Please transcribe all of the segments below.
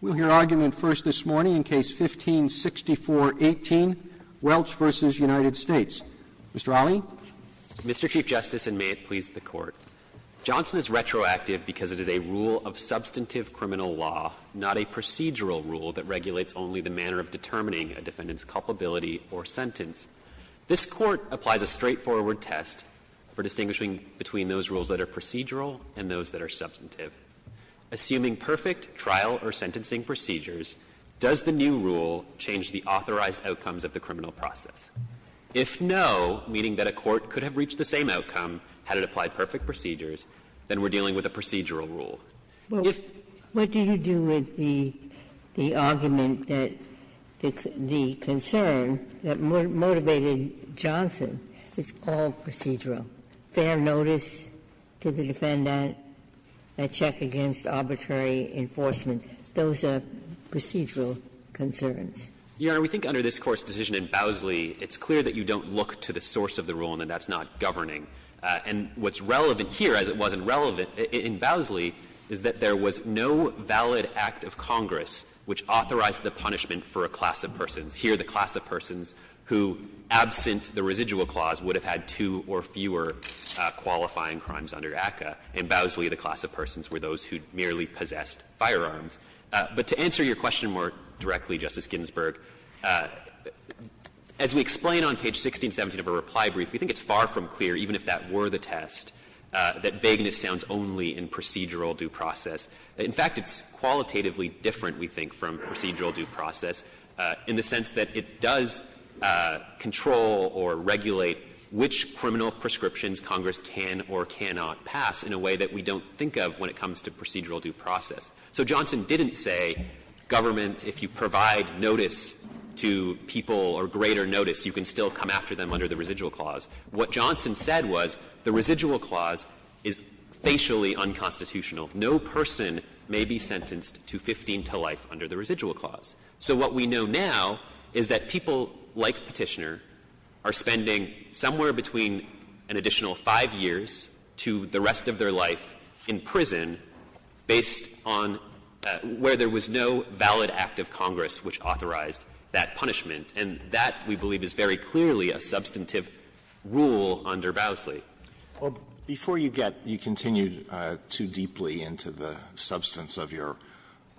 We'll hear argument first this morning in Case 15-6418, Welch v. United States. Mr. Ali. Mr. Chief Justice, and may it please the Court. Johnson is retroactive because it is a rule of substantive criminal law, not a procedural rule that regulates only the manner of determining a defendant's culpability or sentence. This Court applies a straightforward test for distinguishing between those rules that are procedural and those that are substantive. Assuming perfect trial or sentencing procedures, does the new rule change the authorized outcomes of the criminal process? If no, meaning that a court could have reached the same outcome had it applied perfect procedures, then we're dealing with a procedural rule. If the Court is retroactive, does it change the authorized outcomes of the criminal If no, meaning that a court could have reached the same outcome had it applied Those are procedural concerns. Your Honor, we think under this Court's decision in Bousley, it's clear that you don't look to the source of the rule and that that's not governing. And what's relevant here, as it wasn't relevant in Bousley, is that there was no valid act of Congress which authorized the punishment for a class of persons. Here the class of persons who, absent the residual clause, would have had two or fewer qualifying crimes under ACCA. In Bousley, the class of persons were those who merely possessed firearms. But to answer your question more directly, Justice Ginsburg, as we explain on page 1617 of a reply brief, we think it's far from clear, even if that were the test, that vagueness sounds only in procedural due process. In fact, it's qualitatively different, we think, from procedural due process in the way that we don't think of when it comes to procedural due process. So Johnson didn't say government, if you provide notice to people or greater notice, you can still come after them under the residual clause. What Johnson said was the residual clause is facially unconstitutional. No person may be sentenced to 15 to life under the residual clause. So what we know now is that people like Petitioner are spending somewhere between an additional 5 years to the rest of their life in prison based on where there was no valid act of Congress which authorized that punishment, and that, we believe, is very clearly a substantive rule under Bousley. Alitoso, before you get too deeply into the substance of your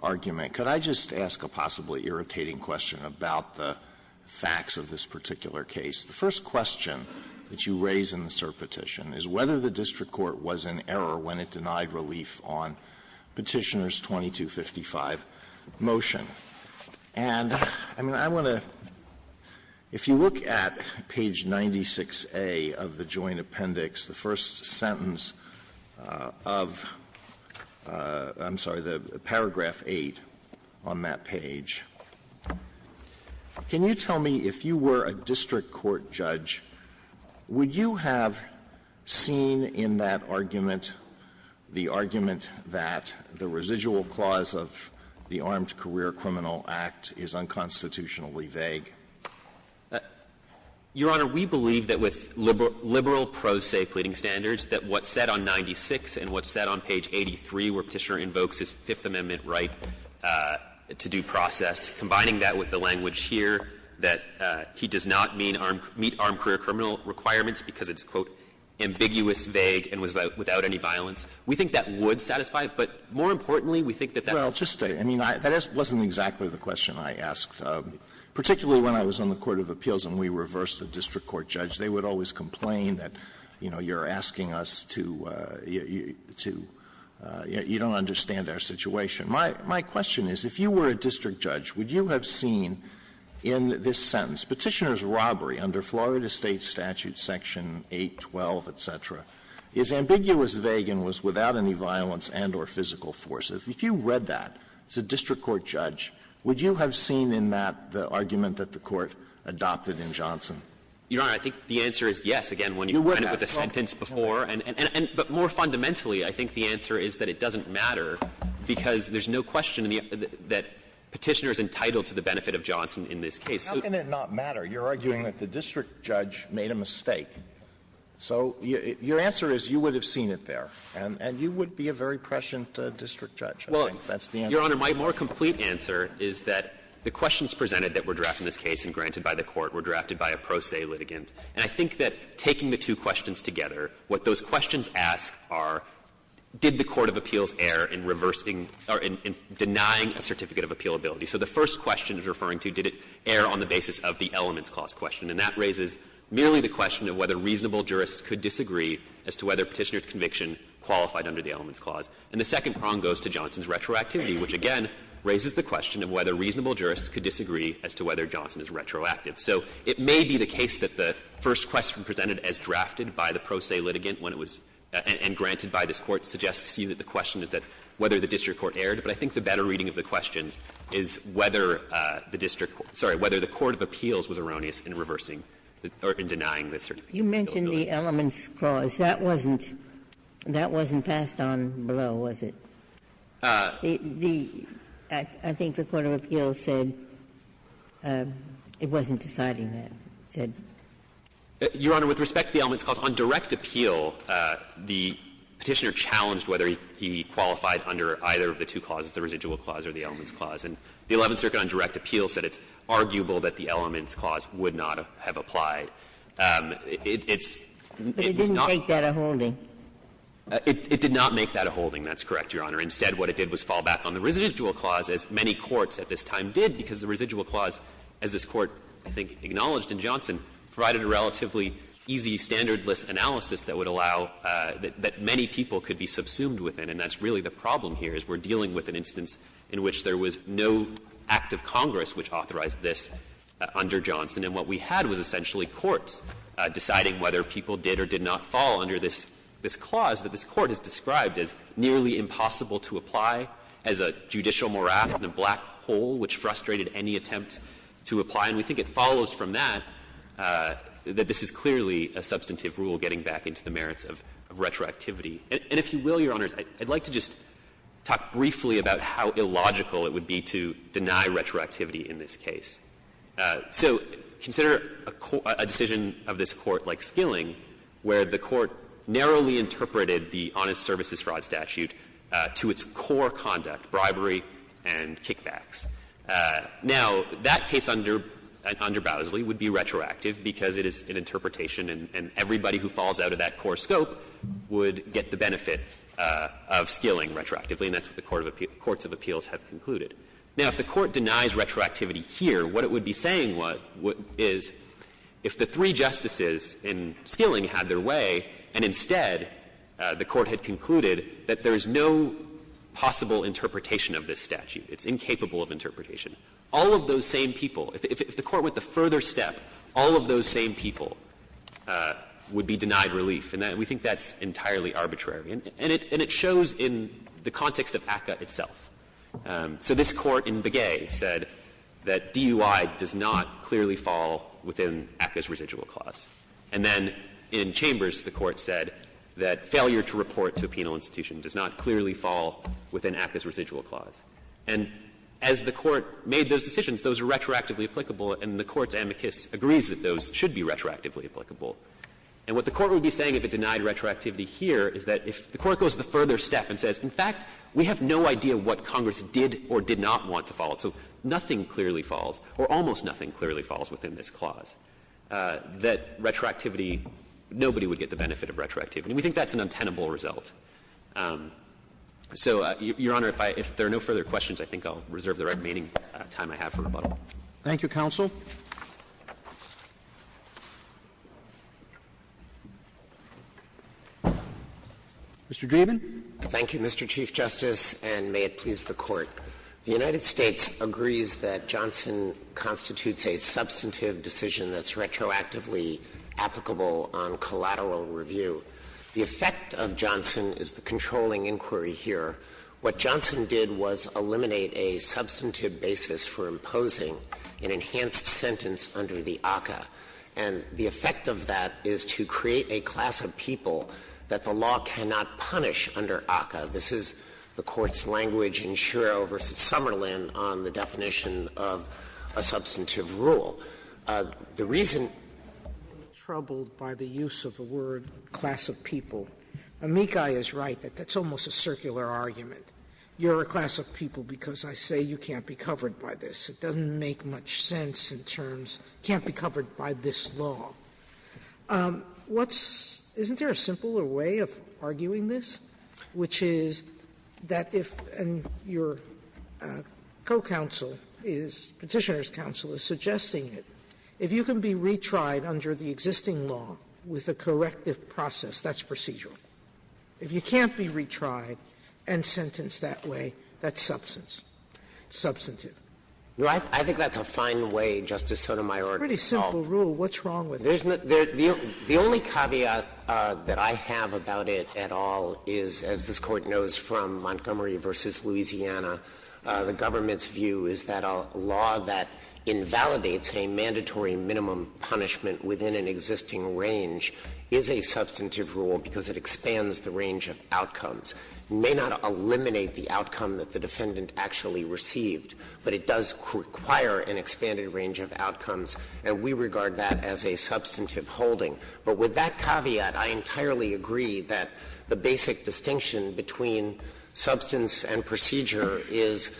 argument, could I just ask a possibly irritating question about the facts of this particular case? The first question that you raise in the cert petition is whether the district court was in error when it denied relief on Petitioner's 2255 motion. And I want to – if you look at page 96A of the Joint Appendix, the first sentence of – I'm sorry, the paragraph 8 on that page, can you tell me if you were a district court judge, would you have seen in that argument the argument that the residual clause of the Armed Career Criminal Act is unconstitutionally vague? Your Honor, we believe that with liberal pro se pleading standards, that what's said on 96 and what's said on page 83 where Petitioner invokes his Fifth Amendment right to due process, combining that with the language here that he does not meet armed career criminal requirements because it's, quote, ambiguous, vague, and without any violence, we think that would satisfy it. But more importantly, we think that that's not true. Alitoso, I mean, that wasn't exactly the question I asked. Particularly when I was on the court of appeals and we reversed the district court judge, they would always complain that, you know, you're asking us to – you don't understand our situation. My question is, if you were a district judge, would you have seen in this sentence Petitioner's robbery under Florida State Statute section 812, et cetera, is ambiguous, vague, and was without any violence and or physical force? If you read that as a district court judge, would you have seen in that the argument that the Court adopted in Johnson? You're right. I think the answer is yes, again, when you read it with the sentence before. And – but more fundamentally, I think the answer is that it doesn't matter because there's no question that Petitioner is entitled to the benefit of Johnson in this case. So the question is, how can it not matter? You're arguing that the district judge made a mistake. So your answer is you would have seen it there, and you would be a very prescient district judge. I think that's the answer. Well, Your Honor, my more complete answer is that the questions presented that were drafted in this case and granted by the Court were drafted by a pro se litigant. And I think that taking the two questions together, what those questions ask are, did the Court of Appeals err in reversing or in denying a certificate of appealability? So the first question is referring to, did it err on the basis of the elements clause question. And that raises merely the question of whether reasonable jurists could disagree as to whether Petitioner's conviction qualified under the elements clause. And the second prong goes to Johnson's retroactivity, which, again, raises the question of whether reasonable jurists could disagree as to whether Johnson is retroactive. So it may be the case that the first question presented as drafted by the pro se litigant when it was and granted by this Court suggests to you that the question is that whether the district court erred. But I think the better reading of the question is whether the district court – sorry – whether the Court of Appeals was erroneous in reversing or in denying the certificate of appealability. You mentioned the elements clause. That wasn't – that wasn't passed on below, was it? The – I think the Court of Appeals said it wasn't deciding that. Your Honor, with respect to the elements clause, on direct appeal, the Petitioner challenged whether he qualified under either of the two clauses, the residual clause or the elements clause. And the Eleventh Circuit on direct appeal said it's arguable that the elements clause would not have applied. It's not – But it didn't make that a holding. It did not make that a holding. That's correct, Your Honor. Instead, what it did was fall back on the residual clause, as many courts at this time did, because the residual clause, as this Court, I think, acknowledged in Johnson, provided a relatively easy, standardless analysis that would allow – that many people could be subsumed within. And that's really the problem here, is we're dealing with an instance in which there was no act of Congress which authorized this under Johnson. And what we had was essentially courts deciding whether people did or did not fall under this clause that this Court has described as nearly impossible to apply as a judicial morath in a black hole, which frustrated any attempt to apply. And we think it follows from that that this is clearly a substantive rule getting back into the merits of retroactivity. And if you will, Your Honors, I'd like to just talk briefly about how illogical it would be to deny retroactivity in this case. So consider a decision of this Court, like Skilling, where the Court narrowly Now, that case under Bowsley would be retroactive, because it is an interpretation and everybody who falls out of that core scope would get the benefit of Skilling retroactively, and that's what the courts of appeals have concluded. Now, if the Court denies retroactivity here, what it would be saying is, if the three justices in Skilling had their way and instead the Court had concluded that there is no possible interpretation of this statute, it's incapable of interpretation, all of those same people, if the Court went the further step, all of those same people would be denied relief. And we think that's entirely arbitrary. And it shows in the context of ACCA itself. So this Court in Begay said that DUI does not clearly fall within ACCA's residual clause. And then in Chambers, the Court said that failure to report to a penal institution does not clearly fall within ACCA's residual clause. And as the Court made those decisions, those are retroactively applicable, and the Court's amicus agrees that those should be retroactively applicable. And what the Court would be saying if it denied retroactivity here is that if the Court goes the further step and says, in fact, we have no idea what Congress did or did not want to follow, so nothing clearly falls, or almost nothing clearly falls within this clause, that retroactivity, nobody would get the benefit of retroactivity. And we think that's an untenable result. So, Your Honor, if I — if there are no further questions, I think I'll reserve the remaining time I have for rebuttal. Roberts Thank you, counsel. Mr. Dreeben. Dreeben, thank you, Mr. Chief Justice, and may it please the Court. The United States agrees that Johnson constitutes a substantive decision that's retroactively applicable on collateral review. The effect of Johnson is the controlling inquiry here. What Johnson did was eliminate a substantive basis for imposing an enhanced sentence under the ACCA, and the effect of that is to create a class of people that the law cannot punish under ACCA. This is the Court's language in Shiro v. Summerlin on the definition of a substantive rule. The reason you're troubled by the use of the word class of people, and Mikai is right, that that's almost a circular argument. You're a class of people because I say you can't be covered by this. It doesn't make much sense in terms, can't be covered by this law. What's — isn't there a simpler way of arguing this, which is that if your co-counsel is, Petitioner's counsel is suggesting it, if you can be retried under the existing law with a corrective process, that's procedural. If you can't be retried and sentenced that way, that's substance, substantive. Dreeben, I think that's a fine way, Justice Sotomayor, to solve. Sotomayor, it's a pretty simple rule. What's wrong with it? Dreeben, the only caveat that I have about it at all is, as this Court knows from my experience, is that a law that invalidates a mandatory minimum punishment within an existing range is a substantive rule because it expands the range of outcomes. It may not eliminate the outcome that the defendant actually received, but it does require an expanded range of outcomes, and we regard that as a substantive holding. But with that caveat, I entirely agree that the basic distinction between substance and procedure is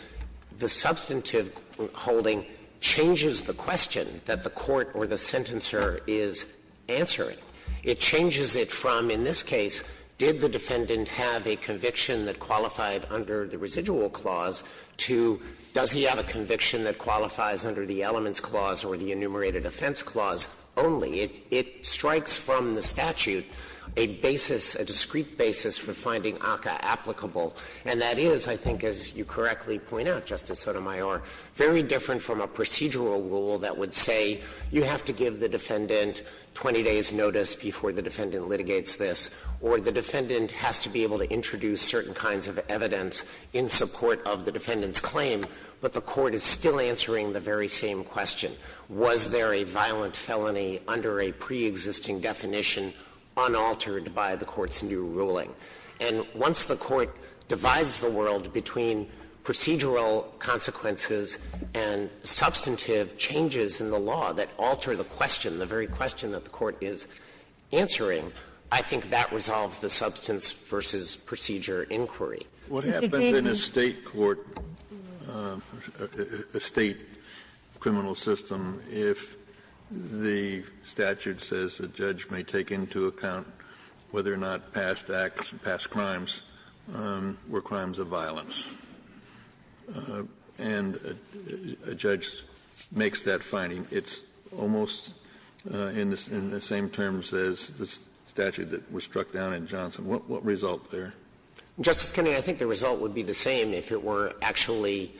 the substantive holding changes the question that the court or the sentencer is answering. It changes it from, in this case, did the defendant have a conviction that qualified under the residual clause, to does he have a conviction that qualifies under the elements clause or the enumerated offense clause only. It strikes from the statute a basis, a discreet basis for finding ACCA applicable, and that is, I think, as you correctly point out, Justice Sotomayor, very different from a procedural rule that would say you have to give the defendant 20 days' notice before the defendant litigates this, or the defendant has to be able to introduce certain kinds of evidence in support of the defendant's claim, but the court is still looking at felony under a preexisting definition unaltered by the court's new ruling. And once the court divides the world between procedural consequences and substantive changes in the law that alter the question, the very question that the court is answering, I think that resolves the substance versus procedure inquiry. Kennedy. Kennedy, what happens in a State court, a State criminal system, if the statute says a judge may take into account whether or not past acts, past crimes were crimes of violence, and a judge makes that finding, it's almost in the same terms as the statute that was struck down in Johnson. What result there? Justice Kennedy, I think the result would be the same if it were actually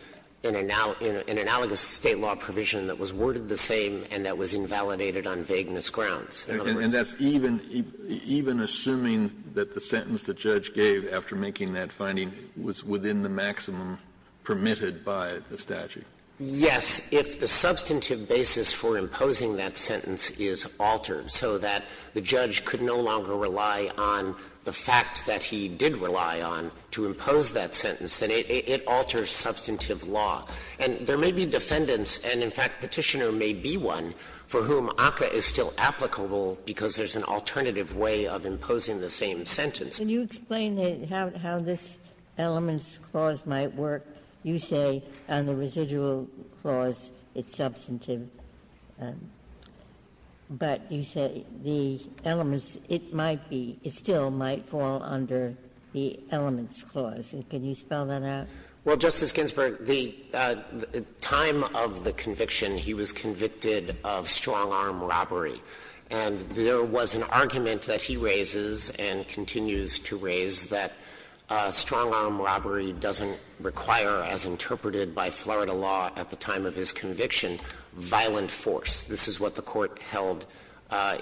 an analogous State law provision that was worded the same and that was invalidated on vagueness grounds. And that's even assuming that the sentence the judge gave after making that finding was within the maximum permitted by the statute. Yes. If the substantive basis for imposing that sentence is altered so that the judge could no longer rely on the fact that he did rely on to impose that sentence, then it alters substantive law. And there may be defendants, and in fact Petitioner may be one, for whom ACCA is still applicable because there's an alternative way of imposing the same sentence. Ginsburg, can you explain how this elements clause might work? You say on the residual clause it's substantive, but you say the elements, it might be, it still might fall under the elements clause. Can you spell that out? Well, Justice Ginsburg, the time of the conviction, he was convicted of strong-arm robbery, and there was an argument that he raises and continues to raise that strong-arm robbery doesn't require, as interpreted by Florida law at the time of his conviction, violent force. This is what the Court held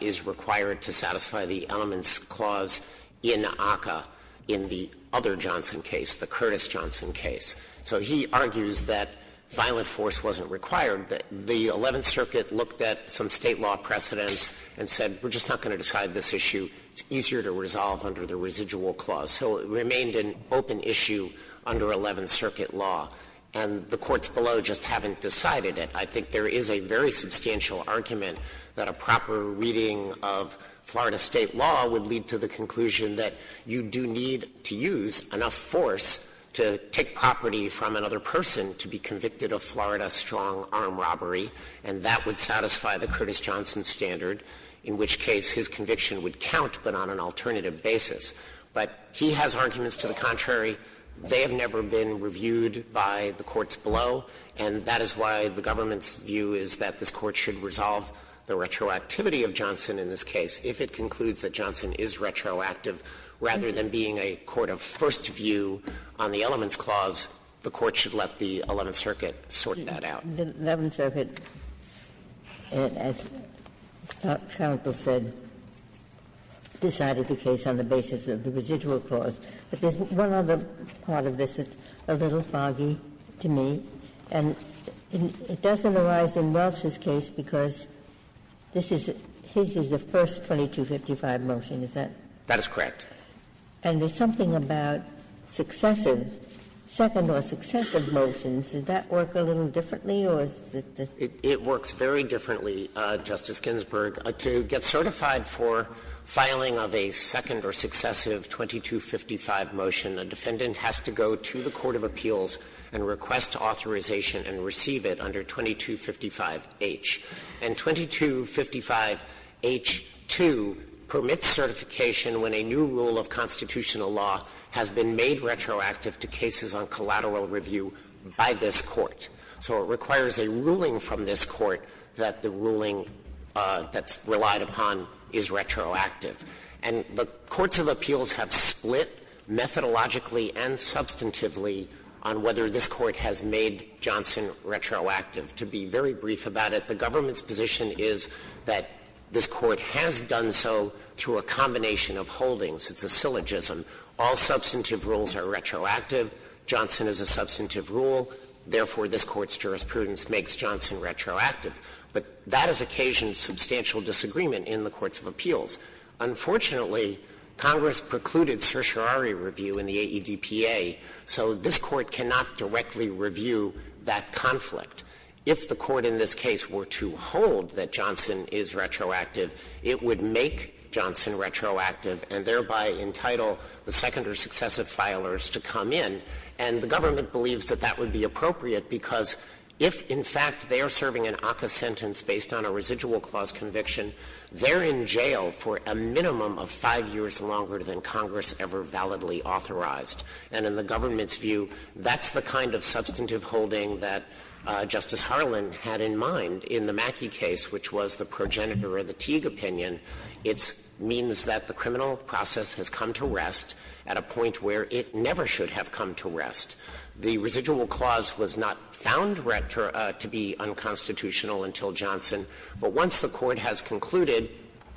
is required to satisfy the elements clause in ACCA in the other Johnson case, the Curtis Johnson case. So he argues that violent force wasn't required. The Eleventh Circuit looked at some State law precedents and said, we're just not going to decide this issue. It's easier to resolve under the residual clause. So it remained an open issue under Eleventh Circuit law, and the courts below just haven't decided it. I think there is a very substantial argument that a proper reading of Florida State law would lead to the conclusion that you do need to use enough force to take property from another person to be convicted of Florida strong-arm robbery, and that would satisfy the Curtis Johnson standard, in which case his conviction would count but on an alternative basis. But he has arguments to the contrary. They have never been reviewed by the courts below, and that is why the government's view is that this Court should resolve the retroactivity of Johnson in this case. If it concludes that Johnson is retroactive, rather than being a court of first view on the elements clause, the Court should let the Eleventh Circuit sort that out. Ginsburg. The Eleventh Circuit, as counsel said, decided the case on the basis of the residual clause. But there's one other part of this that's a little foggy to me, and it doesn't arise in Welch's case because this is his is the first 2255 motion, is that? That is correct. And there's something about successive, second or successive motions, does that work a little differently, or is it the same? It works very differently, Justice Ginsburg. To get certified for filing of a second or successive 2255 motion, a defendant has to go to the court of appeals and request authorization and receive it under 2255H, and 2255H2 permits certification when a new rule of constitutional law has been made retroactive to cases on collateral review by this Court. So it requires a ruling from this Court that the ruling that's relied upon is retroactive. And the courts of appeals have split methodologically and substantively on whether this Court has made Johnson retroactive. To be very brief about it, the government's position is that this Court has done so through a combination of holdings. It's a syllogism. All substantive rules are retroactive. Johnson is a substantive rule. Therefore, this Court's jurisprudence makes Johnson retroactive. But that has occasioned substantial disagreement in the courts of appeals. Unfortunately, Congress precluded certiorari review in the AEDPA, so this Court cannot directly review that conflict. If the Court in this case were to hold that Johnson is retroactive, it would make Johnson retroactive and thereby entitle the second or successive filers to come in, and the government believes that that would be appropriate, because if, in fact, they are serving an ACCA sentence based on a residual clause conviction, they're in jail for a minimum of 5 years longer than Congress ever validly authorized. And in the government's view, that's the kind of substantive holding that Justice Harlan had in mind in the Mackey case, which was the progenitor of the Teague opinion. It means that the criminal process has come to rest at a point where it never should have come to rest. The residual clause was not found to be unconstitutional until Johnson, but once the Court has concluded,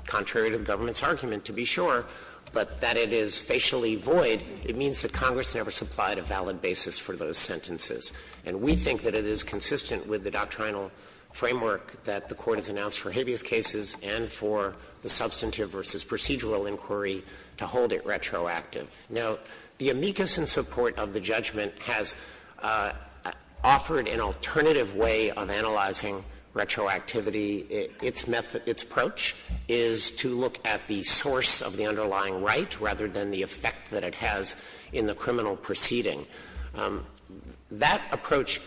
contrary to the government's argument, to be sure, but that it is facially void, it means that Congress never supplied a valid basis for those sentences. And we think that it is consistent with the doctrinal framework that the Court has announced for habeas cases and for the substantive versus procedural inquiry to hold it retroactive. Now, the amicus in support of the judgment has offered an alternative way of analyzing retroactivity. Its method, its approach is to look at the source of the underlying right rather than the effect that it has in the criminal proceeding. That approach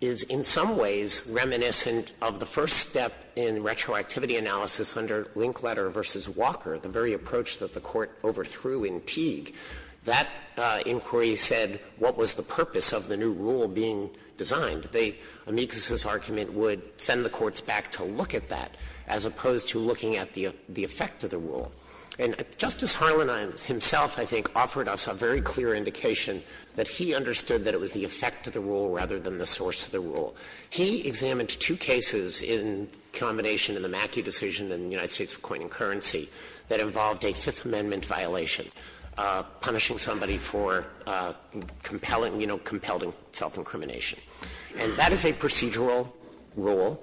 is in some ways reminiscent of the first step in retroactivity analysis under Linkletter v. Walker, the very approach that the Court overthrew in Teague. That inquiry said what was the purpose of the new rule being designed. The amicus's argument would send the courts back to look at that as opposed to looking at the effect of the rule. And Justice Harlan himself, I think, offered us a very clear indication that he understood that it was the effect of the rule rather than the source of the rule. He examined two cases in combination in the Mackey decision in the United States of Coin and Currency that involved a Fifth Amendment violation, punishing somebody for compelling, you know, compelling self-incrimination. And that is a procedural rule,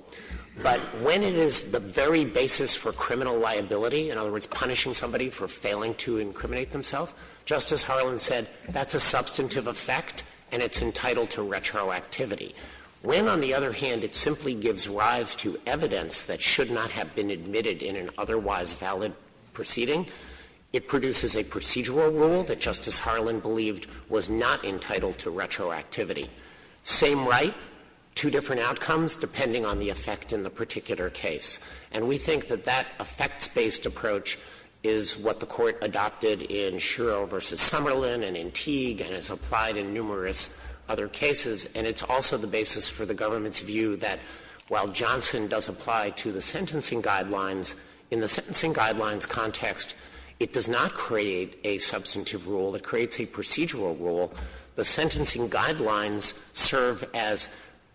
but when it is the very basis for criminal liability, in other words, punishing somebody for failing to incriminate themself, Justice Harlan said that's a substantive effect and it's entitled to retroactivity. When, on the other hand, it simply gives rise to evidence that should not have been admitted in an otherwise valid proceeding, it produces a procedural rule that Justice Harlan believed was not entitled to retroactivity. Same right, two different outcomes depending on the effect in the particular case. And we think that that effects-based approach is what the Court adopted in Shuro v. Summerlin and in Teague and has applied in numerous other cases. And it's also the basis for the government's view that while Johnson does apply to the sentencing guidelines, in the sentencing guidelines context, it does not create a substantive rule. It creates a procedural rule. The sentencing guidelines serve as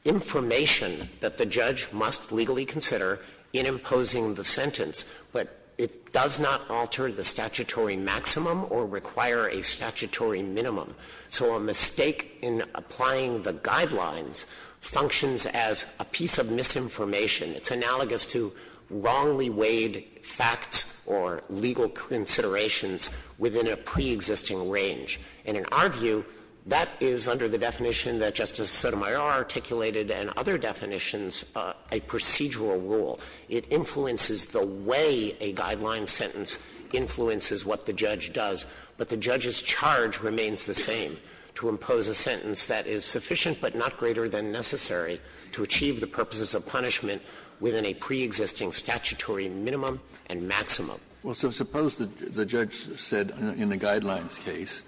information that the judge must legally consider in imposing the sentence, but it does not alter the statutory maximum or require a statutory minimum. So a mistake in applying the guidelines functions as a piece of misinformation. It's analogous to wrongly weighed facts or legal considerations within a preexisting range. And in our view, that is under the definition that Justice Sotomayor articulated and other definitions, a procedural rule. It influences the way a guideline sentence influences what the judge does, but the judge's charge remains the same, to impose a sentence that is sufficient but not greater than necessary to achieve the purposes of punishment within a preexisting statutory minimum and maximum. Kennedy, in the Guidelines case,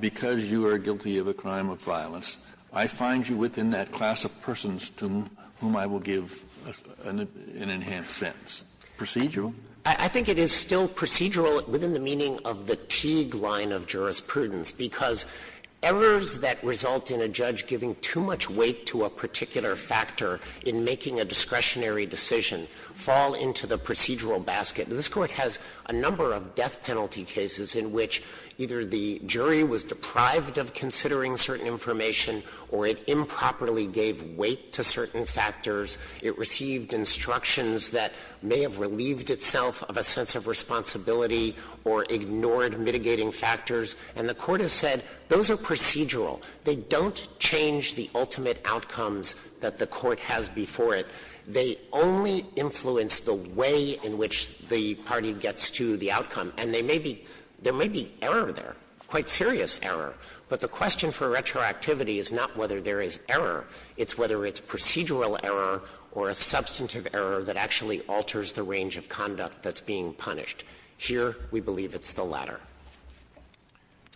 because you are guilty of a crime of violence, I find you within that class of persons to whom I will give an enhanced sentence. Dreeben. I think it is still procedural within the meaning of the Teague line of jurisprudence, because errors that result in a judge giving too much weight to a particular factor in making a discretionary decision fall into the procedural basket. This Court has a number of death penalty cases in which either the jury was deprived of considering certain information or it improperly gave weight to certain factors. It received instructions that may have relieved itself of a sense of responsibility or ignored mitigating factors. And the Court has said those are procedural. They don't change the ultimate outcomes that the Court has before it. They only influence the way in which the party gets to the outcome. And they may be — there may be error there, quite serious error. But the question for retroactivity is not whether there is error. It's whether it's procedural error or a substantive error that actually alters the range of conduct that's being punished. Here, we believe it's the latter.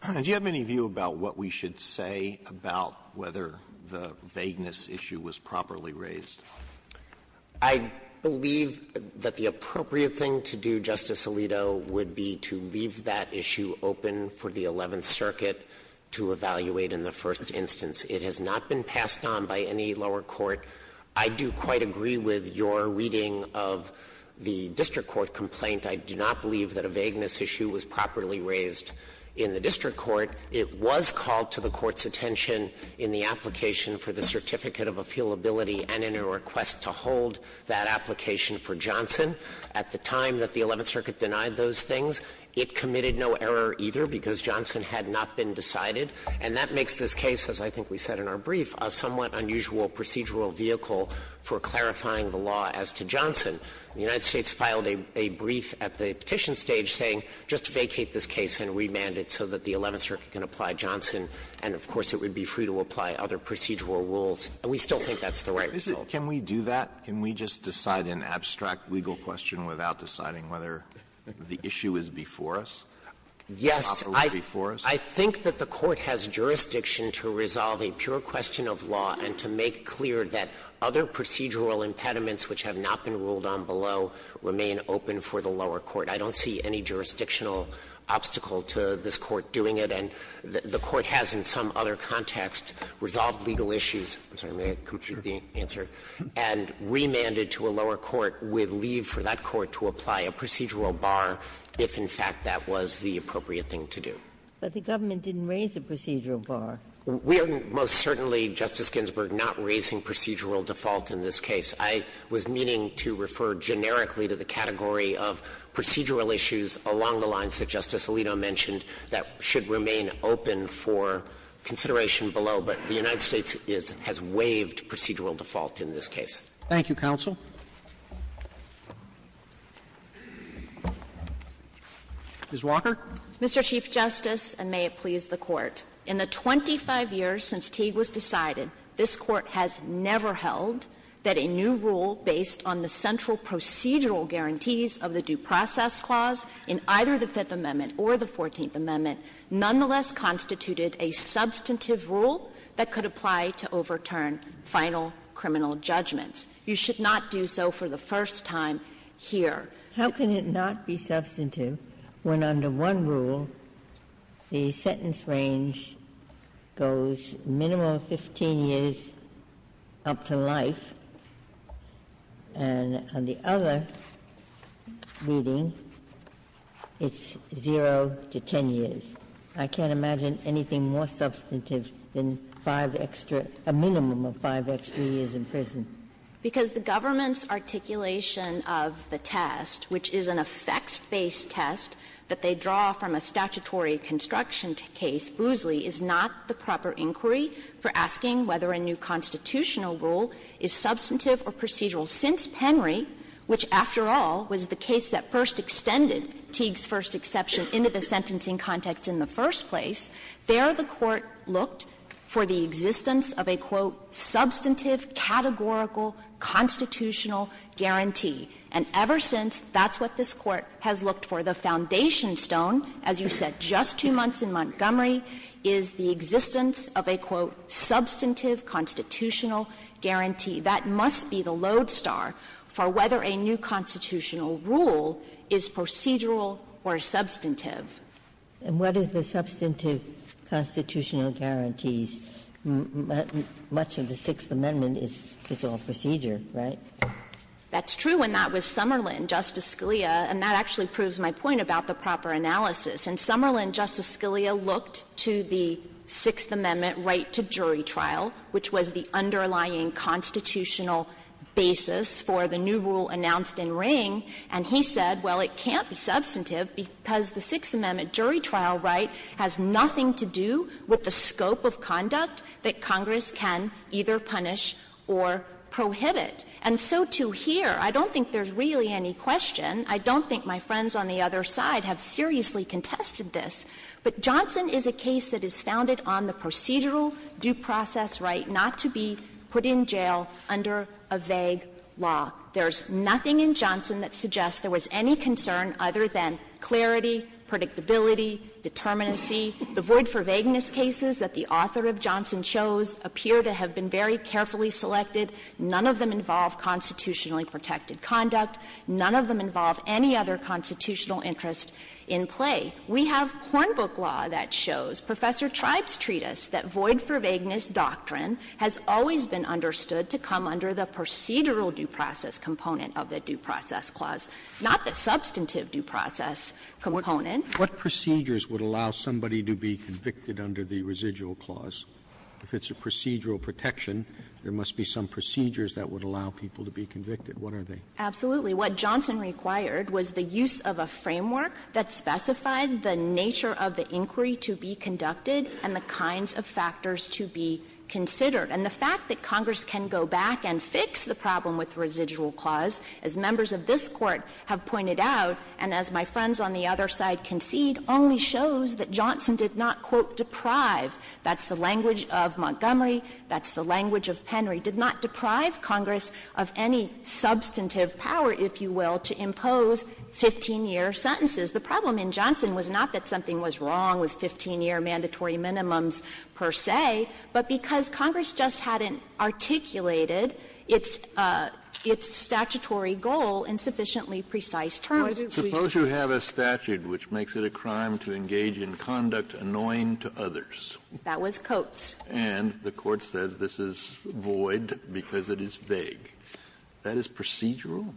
Alito, do you have any view about what we should say about whether the vagueness issue was properly raised? I believe that the appropriate thing to do, Justice Alito, would be to leave that issue open for the Eleventh Circuit to evaluate in the first instance. It has not been passed on by any lower court. I do quite agree with your reading of the district court complaint. I do not believe that a vagueness issue was properly raised in the district court. It was called to the Court's attention in the application for the certificate of appealability and in a request to hold that application for Johnson. At the time that the Eleventh Circuit denied those things, it committed no error either, because Johnson had not been decided. And that makes this case, as I think we said in our brief, a somewhat unusual procedural vehicle for clarifying the law as to Johnson. The United States filed a brief at the petition stage saying, just vacate this case and remand it so that the Eleventh Circuit can apply Johnson, and, of course, it would be free to apply other procedural rules. And we still think that's the right result. Alito, can we do that? Can we just decide an abstract legal question without deciding whether the issue is before us? Yes. I think that the Court has jurisdiction to resolve a pure question of law and to make clear that other procedural impediments which have not been ruled on below remain open for the lower court. I don't see any jurisdictional obstacle to this Court doing it. And the Court has in some other context resolved legal issues. I'm sorry, may I complete the answer? And remanded to a lower court with leave for that court to apply a procedural bar if, in fact, that was the appropriate thing to do. But the government didn't raise a procedural bar. We are most certainly, Justice Ginsburg, not raising procedural default in this case. I was meaning to refer generically to the category of procedural issues along the lines that Justice Alito mentioned that should remain open for consideration below. But the United States has waived procedural default in this case. Thank you, counsel. Ms. Walker. Mr. Chief Justice, and may it please the Court. In the 25 years since Teague was decided, this Court has never held that a new rule based on the central procedural guarantees of the Due Process Clause in either the Fifth Amendment or the Fourteenth Amendment nonetheless constituted a substantive rule that could apply to overturn final criminal judgments. You should not do so for the first time here. How can it not be substantive when under one rule the sentence range goes minimum of 15 years up to life, and on the other reading it's zero to 10 years? I can't imagine anything more substantive than five extra — a minimum of five extra years in prison. Because the government's articulation of the test, which is an effects-based test that they draw from a statutory construction case, Boosley, is not the proper inquiry for asking whether a new constitutional rule is substantive or procedural. Since Penry, which, after all, was the case that first extended Teague's first exception into the sentencing context in the first place, there the Court looked for the existence of a, quote, substantive, categorical, constitutional guarantee. And ever since, that's what this Court has looked for. The foundation stone, as you said, just two months in Montgomery, is the existence of a, quote, substantive constitutional guarantee. That must be the lodestar for whether a new constitutional rule is procedural or substantive. Ginsburg. And what is the substantive constitutional guarantees? Much of the Sixth Amendment is all procedure, right? That's true, and that was Summerlin, Justice Scalia, and that actually proves my point about the proper analysis. In Summerlin, Justice Scalia looked to the Sixth Amendment right to jury trial, and he said, well, it can't be substantive because the Sixth Amendment jury trial right has nothing to do with the scope of conduct that Congress can either punish or prohibit. And so, too, here, I don't think there's really any question, I don't think my friends on the other side have seriously contested this, but Johnson is a case that is founded on the procedural due process right not to be put in jail under a vague law. There's nothing in Johnson that suggests there was any concern other than clarity, predictability, determinacy. The void for vagueness cases that the author of Johnson chose appear to have been very carefully selected. None of them involve constitutionally protected conduct. None of them involve any other constitutional interest in play. We have Hornbook law that shows, Professor Tribe's treatise, that void for vagueness component of the due process clause, not the substantive due process component. Roberts, what procedures would allow somebody to be convicted under the residual clause? If it's a procedural protection, there must be some procedures that would allow people to be convicted. What are they? Absolutely. What Johnson required was the use of a framework that specified the nature of the inquiry to be conducted and the kinds of factors to be considered. And the fact that Congress can go back and fix the problem with residual clause, as members of this Court have pointed out, and as my friends on the other side concede, only shows that Johnson did not, quote, deprive, that's the language of Montgomery, that's the language of Penry, did not deprive Congress of any substantive power, if you will, to impose 15-year sentences. The problem in Johnson was not that something was wrong with 15-year mandatory minimums per se, but because Congress just hadn't articulated its statutory goal in sufficiently precise terms. Suppose you have a statute which makes it a crime to engage in conduct annoying to others. That was Coates. And the Court says this is void because it is vague. That is procedural?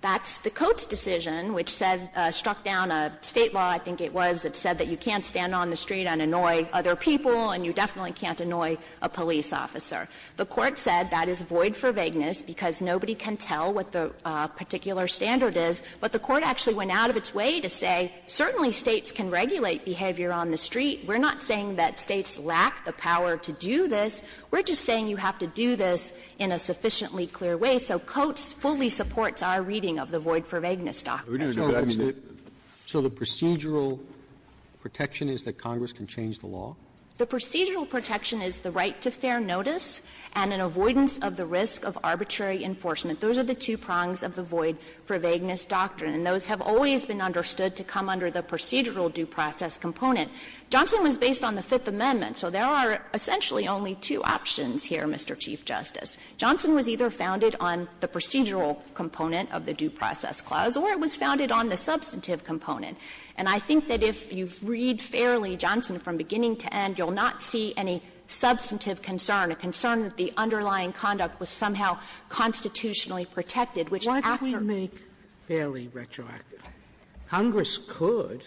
That's the Coates decision, which said, struck down a State law, I think it was, that said that you can't stand on the street and annoy other people and you definitely can't annoy a police officer. The Court said that is void for vagueness because nobody can tell what the particular standard is. But the Court actually went out of its way to say, certainly States can regulate behavior on the street. We're not saying that States lack the power to do this. We're just saying you have to do this in a sufficiently clear way. So Coates fully supports our reading of the void for vagueness doctrine. Roberts So the procedural protection is that Congress can change the law? The procedural protection is the right to fair notice and an avoidance of the risk of arbitrary enforcement. Those are the two prongs of the void for vagueness doctrine. And those have always been understood to come under the procedural due process component. Johnson was based on the Fifth Amendment, so there are essentially only two options here, Mr. Chief Justice. Johnson was either founded on the procedural component of the due process clause or it was founded on the substantive component. And I think that if you read fairly Johnson from beginning to end, you'll not see any substantive concern, a concern that the underlying conduct was somehow constitutionally protected, which after we make. Sotomayor Why don't we make fairly retroactive? Congress could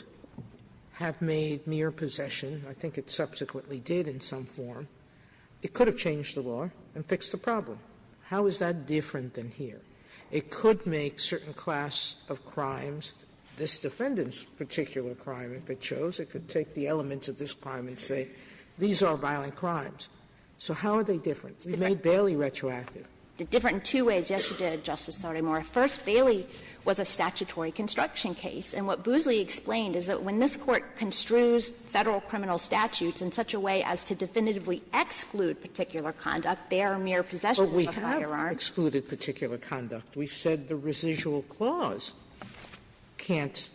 have made mere possession, I think it subsequently did in some form, it could have changed the law and fixed the problem. How is that different than here? It could make certain class of crimes, this defendant's particular crime, if it chose, it could take the elements of this crime and say these are violent crimes. So how are they different? We've made Bailey retroactive. It's different in two ways, Justice Sotomayor. First, Bailey was a statutory construction case. And what Boozley explained is that when this Court construes Federal criminal statutes in such a way as to definitively exclude particular conduct, they are mere possession of a firearm. Sotomayor Excluded particular conduct. We've said the residual clause can't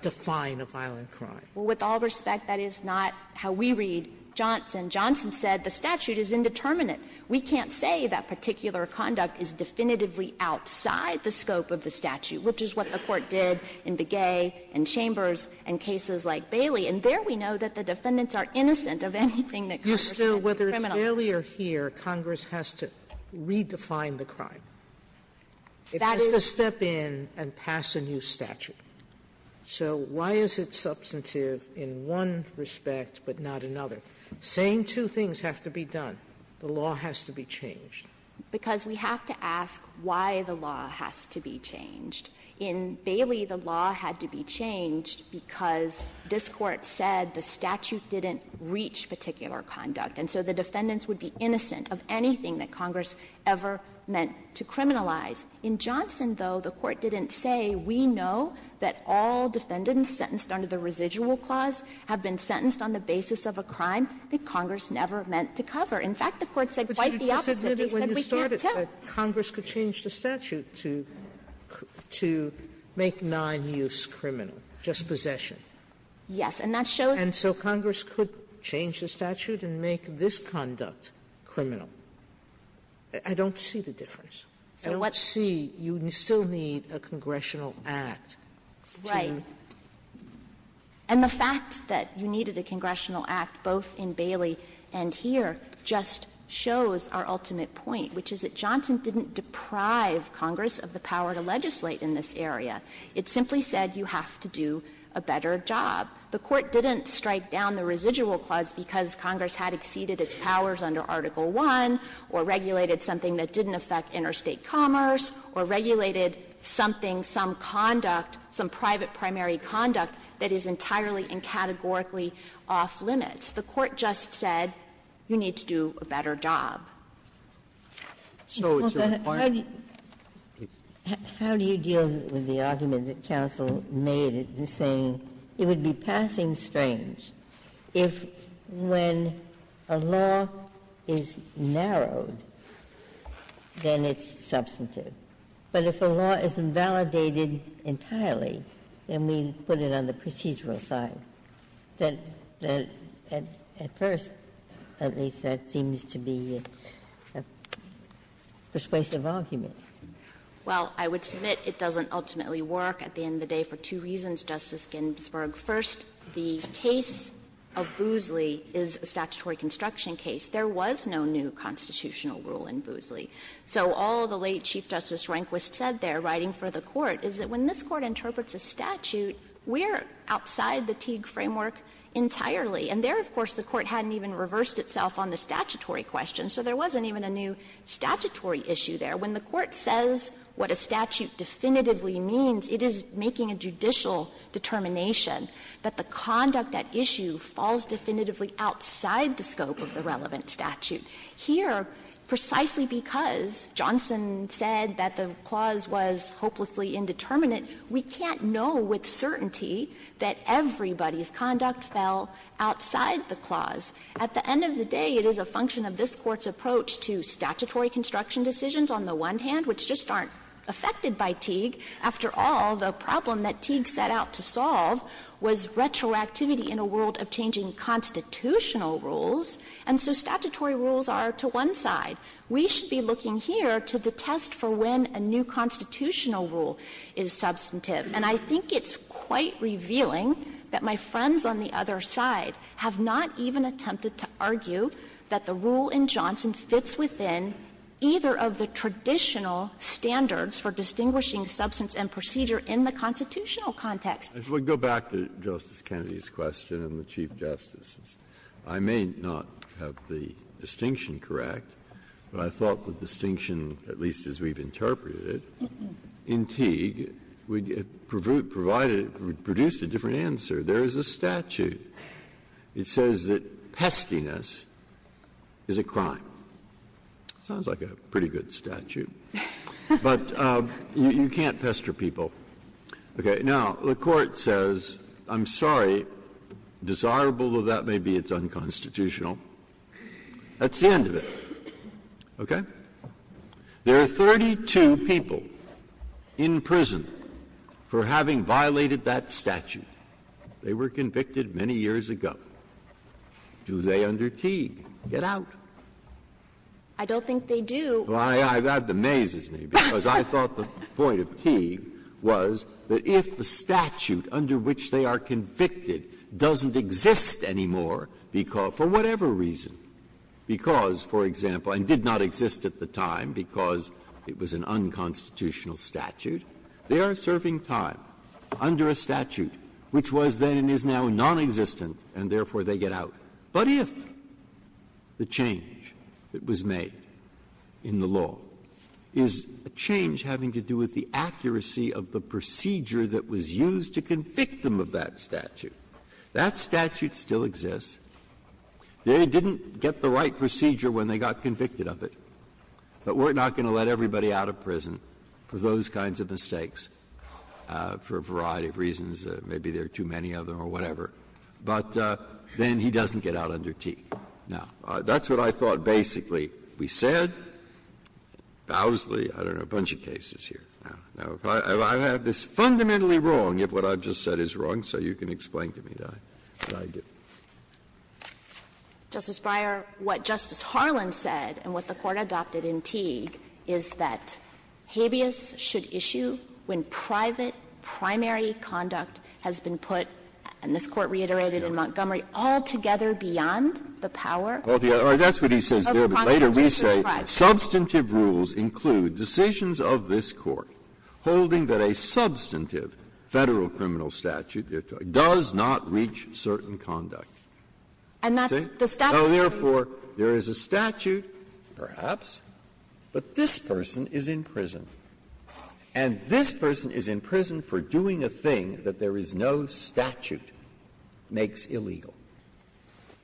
define a violent crime. Well, with all respect, that is not how we read Johnson. Johnson said the statute is indeterminate. We can't say that particular conduct is definitively outside the scope of the statute, which is what the Court did in Begay and Chambers and cases like Bailey. said was criminal. Sotomayor But you still, whether it's Bailey or here, Congress has to redefine the crime. It has to step in and pass a new statute. So why is it substantive in one respect but not another? Saying two things have to be done. The law has to be changed. Because we have to ask why the law has to be changed. In Bailey, the law had to be changed because this Court said the statute didn't reach particular conduct. And so the defendants would be innocent of anything that Congress ever meant to criminalize. In Johnson, though, the Court didn't say, we know that all defendants sentenced under the residual clause have been sentenced on the basis of a crime that Congress never meant to cover. In fact, the Court said quite the opposite. It said we can't tell. Sotomayor But you just admitted when you started that Congress could change the statute to make nonuse criminal, just possession. Sotomayor Yes. And that shows that Congress can't do that. Sotomayor It's not that you can't change the statute and make this conduct criminal. I don't see the difference. I don't see you still need a congressional act to do that. Right. And the fact that you needed a congressional act both in Bailey and here just shows our ultimate point, which is that Johnson didn't deprive Congress of the power to legislate in this area. It simply said you have to do a better job. The Court didn't strike down the residual clause because Congress had exceeded its powers under Article I or regulated something that didn't affect interstate commerce or regulated something, some conduct, some private primary conduct that is entirely and categorically off limits. The Court just said you need to do a better job. Ginsburg So it's your point? How do you deal with the argument that counsel made in saying it would be passing strange if when a law is narrowed, then it's substantive, but if a law is invalidated entirely and we put it on the procedural side, then at first, at least that seems to be a persuasive argument? Well, I would submit it doesn't ultimately work at the end of the day for two reasons, Justice Ginsburg. First, the case of Boozley is a statutory construction case. There was no new constitutional rule in Boozley. So all the late Chief Justice Rehnquist said there writing for the Court is that when this Court interprets a statute, we are outside the Teague framework entirely. And there, of course, the Court hadn't even reversed itself on the statutory question, so there wasn't even a new statutory issue there. When the Court says what a statute definitively means, it is making a judicial determination that the conduct at issue falls definitively outside the scope of the relevant statute. Here, precisely because Johnson said that the clause was hopelessly indeterminate, we can't know with certainty that everybody's conduct fell outside the clause. At the end of the day, it is a function of this Court's approach to statutory construction decisions on the one hand, which just aren't affected by Teague. After all, the problem that Teague set out to solve was retroactivity in a world of changing constitutional rules, and so statutory rules are to one side. We should be looking here to the test for when a new constitutional rule is substantive. And I think it's quite revealing that my friends on the other side have not even attempted to argue that the rule in Johnson fits within either of the traditional standards for distinguishing substance and procedure in the constitutional context. Breyer, if we go back to Justice Kennedy's question and the Chief Justice's, I may not have the distinction correct, but I thought the distinction, at least as we've interpreted it, in Teague would provide a new, produced a different answer. There is a statute. It says that pestiness is a crime. Sounds like a pretty good statute. But you can't pester people. Okay. Now, the Court says, I'm sorry, desirable, though that may be its unconstitutional. That's the end of it. Okay? There are 32 people in prison for having violated that statute. They were convicted many years ago. Do they under Teague get out? I don't think they do. Breyer, that amazes me, because I thought the point of Teague was that if the statute under which they are convicted doesn't exist anymore because of whatever reason, because, for example, and did not exist at the time because it was an unconstitutional statute, they are serving time under a statute which was then and is now nonexistent, and therefore they get out. But if the change that was made in the law is a change having to do with the accuracy of the procedure that was used to convict them of that statute, that statute still exists. They didn't get the right procedure when they got convicted of it, but we're not going to let everybody out of prison for those kinds of mistakes for a variety of reasons. Maybe there are too many of them or whatever. But then he doesn't get out under Teague. Now, that's what I thought basically we said. Bowsley, I don't know, a bunch of cases here. Now, if I have this fundamentally wrong, if what I've just said is wrong, so you can explain to me what I do. Justice Breyer, what Justice Harlan said and what the Court adopted in Teague is that habeas should issue when private primary conduct has been put, and this Court has reiterated in Montgomery, altogether beyond the power of the pronunciation of a bribe. Breyer, that's what he says there, but later we say substantive rules include decisions of this Court holding that a substantive Federal criminal statute does not reach certain conduct. And that's the statute. See? Now, therefore, there is a statute, perhaps, but this person is in prison, and this person is in prison for doing a thing that there is no statute makes illegal.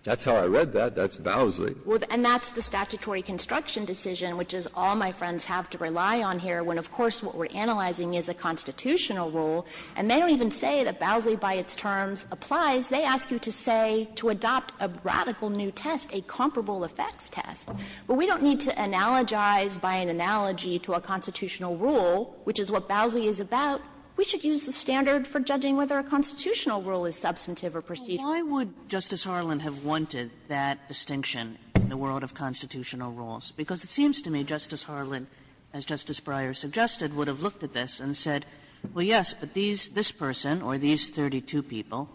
That's how I read that. That's Bowsley. And that's the statutory construction decision, which is all my friends have to rely on here, when, of course, what we're analyzing is a constitutional rule. And they don't even say that Bowsley, by its terms, applies. They ask you to say, to adopt a radical new test, a comparable effects test. But we don't need to analogize by an analogy to a constitutional rule, which is what Bowsley is about. We should use the standard for judging whether a constitutional rule is substantive or procedural. Kagan Well, why would Justice Harlan have wanted that distinction in the world of constitutional rules? Because it seems to me Justice Harlan, as Justice Breyer suggested, would have looked at this and said, well, yes, but these person, or these 32 people,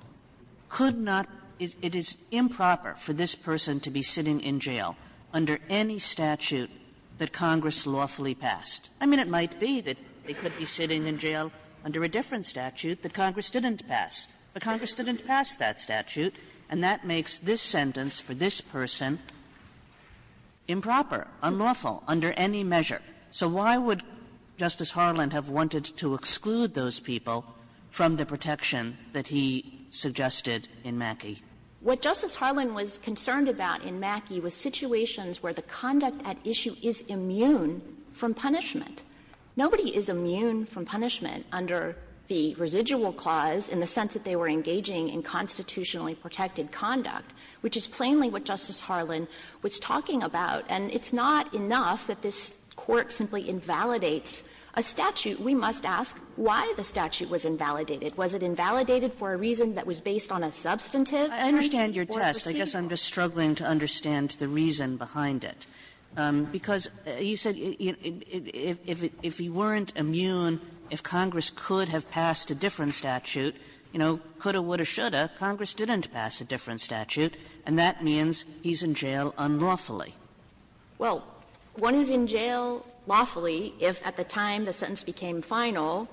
could not be in jail, it is improper for this person to be sitting in jail under any statute that Congress lawfully passed. I mean, it might be that they could be sitting in jail under a different statute that Congress didn't pass, but Congress didn't pass that statute, and that makes this sentence for this person improper, unlawful, under any measure. So why would Justice Harlan have wanted to exclude those people from the protection that he suggested in Mackey? Sherry What Justice Harlan was concerned about in Mackey was situations where the conduct at issue is immune from punishment. Nobody is immune from punishment under the residual clause in the sense that they were engaging in constitutionally protected conduct, which is plainly what Justice Harlan was talking about. And it's not enough that this Court simply invalidates a statute. We must ask why the statute was invalidated. Was it invalidated for a reason that was based on a substantive version or procedural reason? I'm struggling to understand the reason behind it, because you said if he weren't immune, if Congress could have passed a different statute, you know, coulda, woulda, shoulda, Congress didn't pass a different statute, and that means he's in jail unlawfully. Sherry Well, one is in jail lawfully if at the time the sentence became final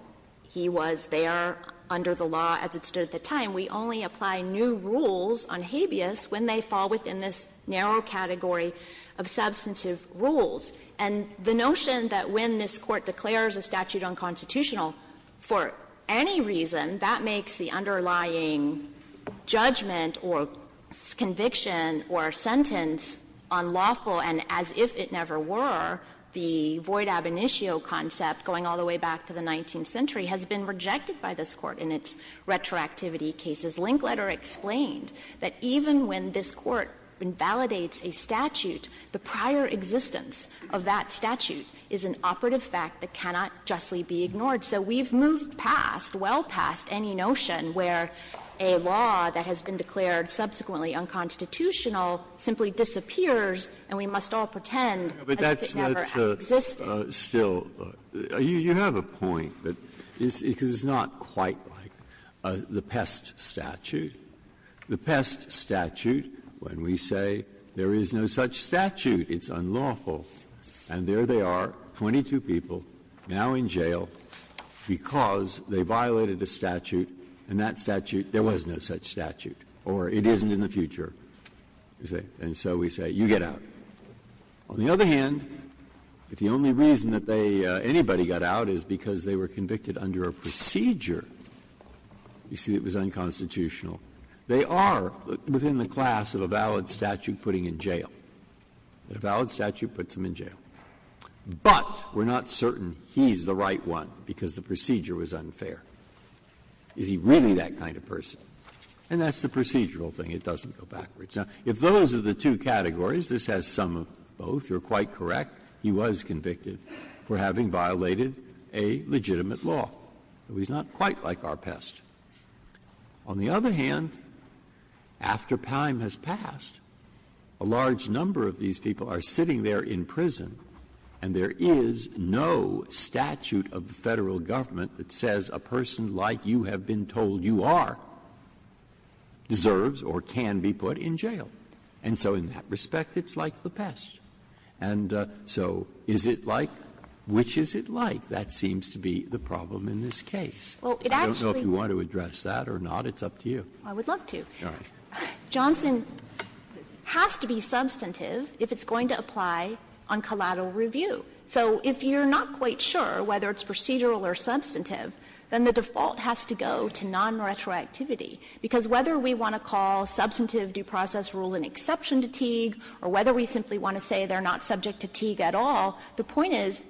he was there under the law as it stood at the time. We only apply new rules on habeas when they fall within this narrow category of substantive rules. And the notion that when this Court declares a statute unconstitutional for any reason, that makes the underlying judgment or conviction or sentence unlawful, and as if it never were, the void ab initio concept going all the way back to the 19th century has been rejected by this Court in its retroactivity cases. Linkletter explained that even when this Court invalidates a statute, the prior existence of that statute is an operative fact that cannot justly be ignored. So we've moved past, well past, any notion where a law that has been declared subsequently unconstitutional simply disappears and we must all pretend as if it never existed. Breyer Still, you have a point, but it's not quite like the Pest statute. The Pest statute, when we say there is no such statute, it's unlawful, and there they are, 22 people now in jail because they violated a statute and that statute there was no such statute or it isn't in the future, and so we say you get out. On the other hand, if the only reason that they anybody got out is because they were convicted under a procedure, you see it was unconstitutional, they are within the class of a valid statute putting in jail, a valid statute puts them in jail. But we're not certain he's the right one because the procedure was unfair. Is he really that kind of person? And that's the procedural thing. It doesn't go backwards. Now, if those are the two categories, this has some of both, you're quite correct, he was convicted for having violated a legitimate law, but he's not quite like our Pest. On the other hand, after time has passed, a large number of these people are sitting there in prison and there is no statute of the Federal Government that says a person like you have been told you are, deserves, or can be put in jail. And so in that respect, it's like the Pest. And so is it like, which is it like, that seems to be the problem in this case. I don't know if you want to address that or not, it's up to you. I would love to. Johnson has to be substantive if it's going to apply on collateral review. So if you're not quite sure whether it's procedural or substantive, then the default has to go to non-retroactivity. Because whether we want to call substantive due process rule an exception to Teague, or whether we simply want to say they're not subject to Teague at all, the point is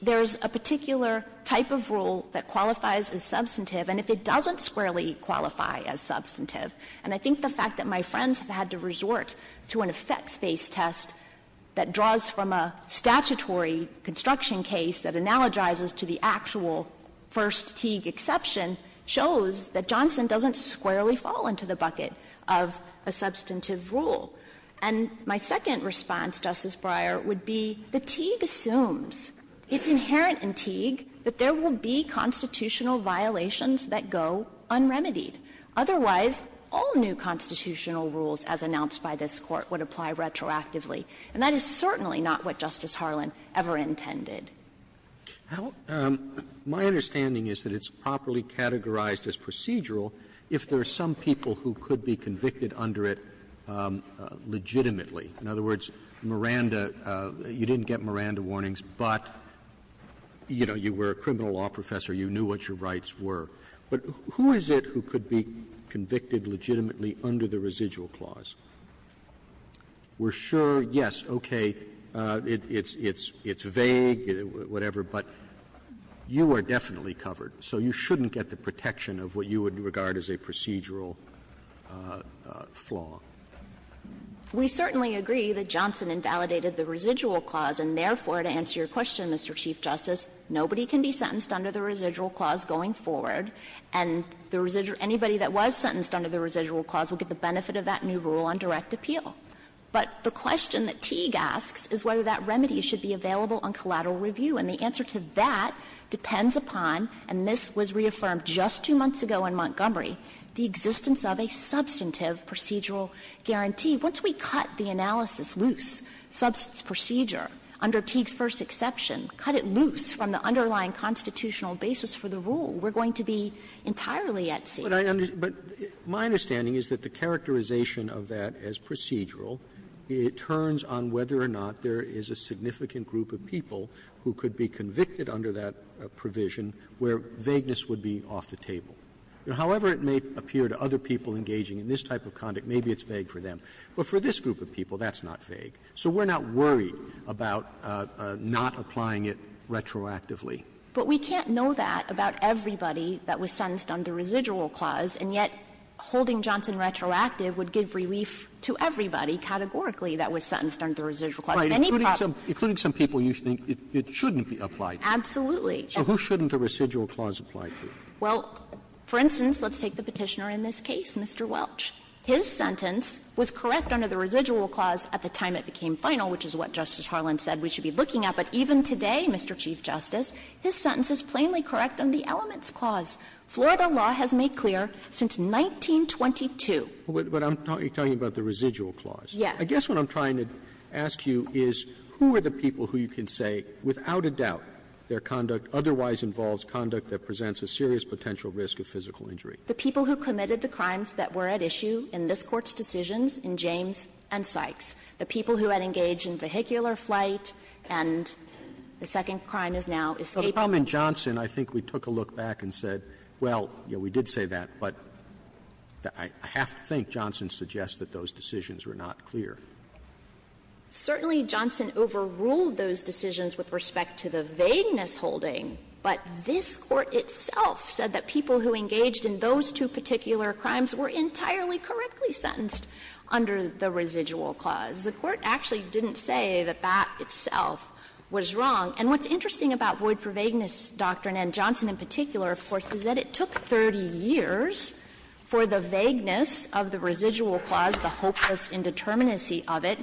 there's a particular type of rule that qualifies as substantive, and if it doesn't squarely qualify as substantive. And I think the fact that my friends have had to resort to an effects-based test that draws from a statutory construction case that analogizes to the actual first Teague exception, shows that Johnson doesn't squarely fall into the bucket of a substantive rule, and my second response, Justice Breyer, would be the Teague assumes. It's inherent in Teague that there will be constitutional violations that go unremitied. Otherwise, all new constitutional rules, as announced by this Court, would apply retroactively. And that is certainly not what Justice Harlan ever intended. Roberts. Roberts. Roberts. My understanding is that it's properly categorized as procedural if there are some people who could be convicted under it legitimately. In other words, Miranda, you didn't get Miranda warnings, but, you know, you were a criminal law professor, you knew what your rights were. But who is it who could be convicted legitimately under the residual clause? We're sure, yes, okay, it's vague, whatever, but you are definitely covered. So you shouldn't get the protection of what you would regard as a procedural flaw. We certainly agree that Johnson invalidated the residual clause, and therefore, to answer your question, Mr. Chief Justice, nobody can be sentenced under the residual clause going forward, and the residual --" But the question that Teague asks is whether that remedy should be available on collateral review, and the answer to that depends upon, and this was reaffirmed just two months ago in Montgomery, the existence of a substantive procedural guarantee. Once we cut the analysis loose, substance procedure, under Teague's first exception, cut it loose from the underlying constitutional basis for the rule, we're going to be entirely at sea. Roberts But my understanding is that the characterization of that as procedural, it turns on whether or not there is a significant group of people who could be convicted under that provision where vagueness would be off the table. However it may appear to other people engaging in this type of conduct, maybe it's vague for them. But for this group of people, that's not vague. So we're not worried about not applying it retroactively. But we can't know that about everybody that was sentenced under residual clause, and yet holding Johnson retroactive would give relief to everybody categorically that was sentenced under residual clause. If any problem was found. Roberts Including some people you think it shouldn't be applied to. Absolutely. Roberts So who shouldn't the residual clause apply to? Well, for instance, let's take the Petitioner in this case, Mr. Welch. His sentence was correct under the residual clause at the time it became final, which is what Justice Harlan said we should be looking at. But even today, Mr. Chief Justice, his sentence is plainly correct under the elements clause. Florida law has made clear since 1922. Roberts But I'm talking about the residual clause. Yes. Roberts I guess what I'm trying to ask you is who are the people who you can say without a doubt their conduct otherwise involves conduct that presents a serious potential risk of physical injury? The people who committed the crimes that were at issue in this Court's decisions in James and Sykes, the people who had engaged in vehicular flight and the second crime is now escapable. Roberts Well, the problem in Johnson, I think we took a look back and said, well, you know, we did say that, but I have to think Johnson suggests that those decisions were not clear. Florida law has made clear. Certainly, Johnson overruled those decisions with respect to the vagueness holding, but this Court itself said that people who engaged in those two particular crimes were entirely correctly sentenced under the residual clause. The Court actually didn't say that that itself was wrong. And what's interesting about void for vagueness doctrine and Johnson in particular, of course, is that it took 30 years for the vagueness of the residual clause, the hopeless indeterminacy of it,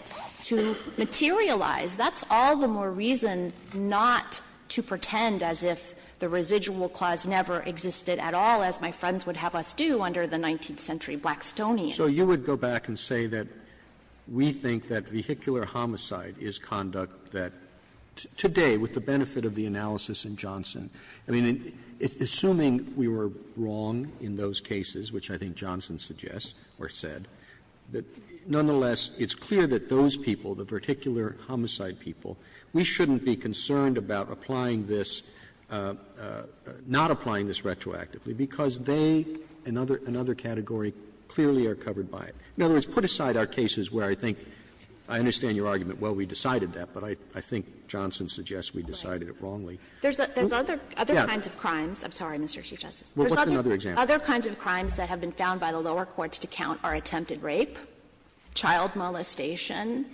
to materialize. That's all the more reason not to pretend as if the residual clause never existed at all, as my friends would have us do under the 19th century Blackstonian. Roberts So you would go back and say that we think that vehicular homicide is conduct that today, with the benefit of the analysis in Johnson, I mean, assuming we were wrong in those cases, which I think Johnson suggests or said, that nonetheless it's clear that those people, the vehicular homicide people, we shouldn't be concerned about applying this, not applying this retroactively, because they, another category, clearly are covered by it. In other words, put aside our cases where I think, I understand your argument, well, we decided that, but I think Johnson suggests we decided it wrongly. Yeah. O'Connell There's other kinds of crimes. I'm sorry, Mr. Chief Justice. Roberts Well, what's another example? O'Connell Other kinds of crimes that have been found by the lower courts to count are attempted rape, child molestation,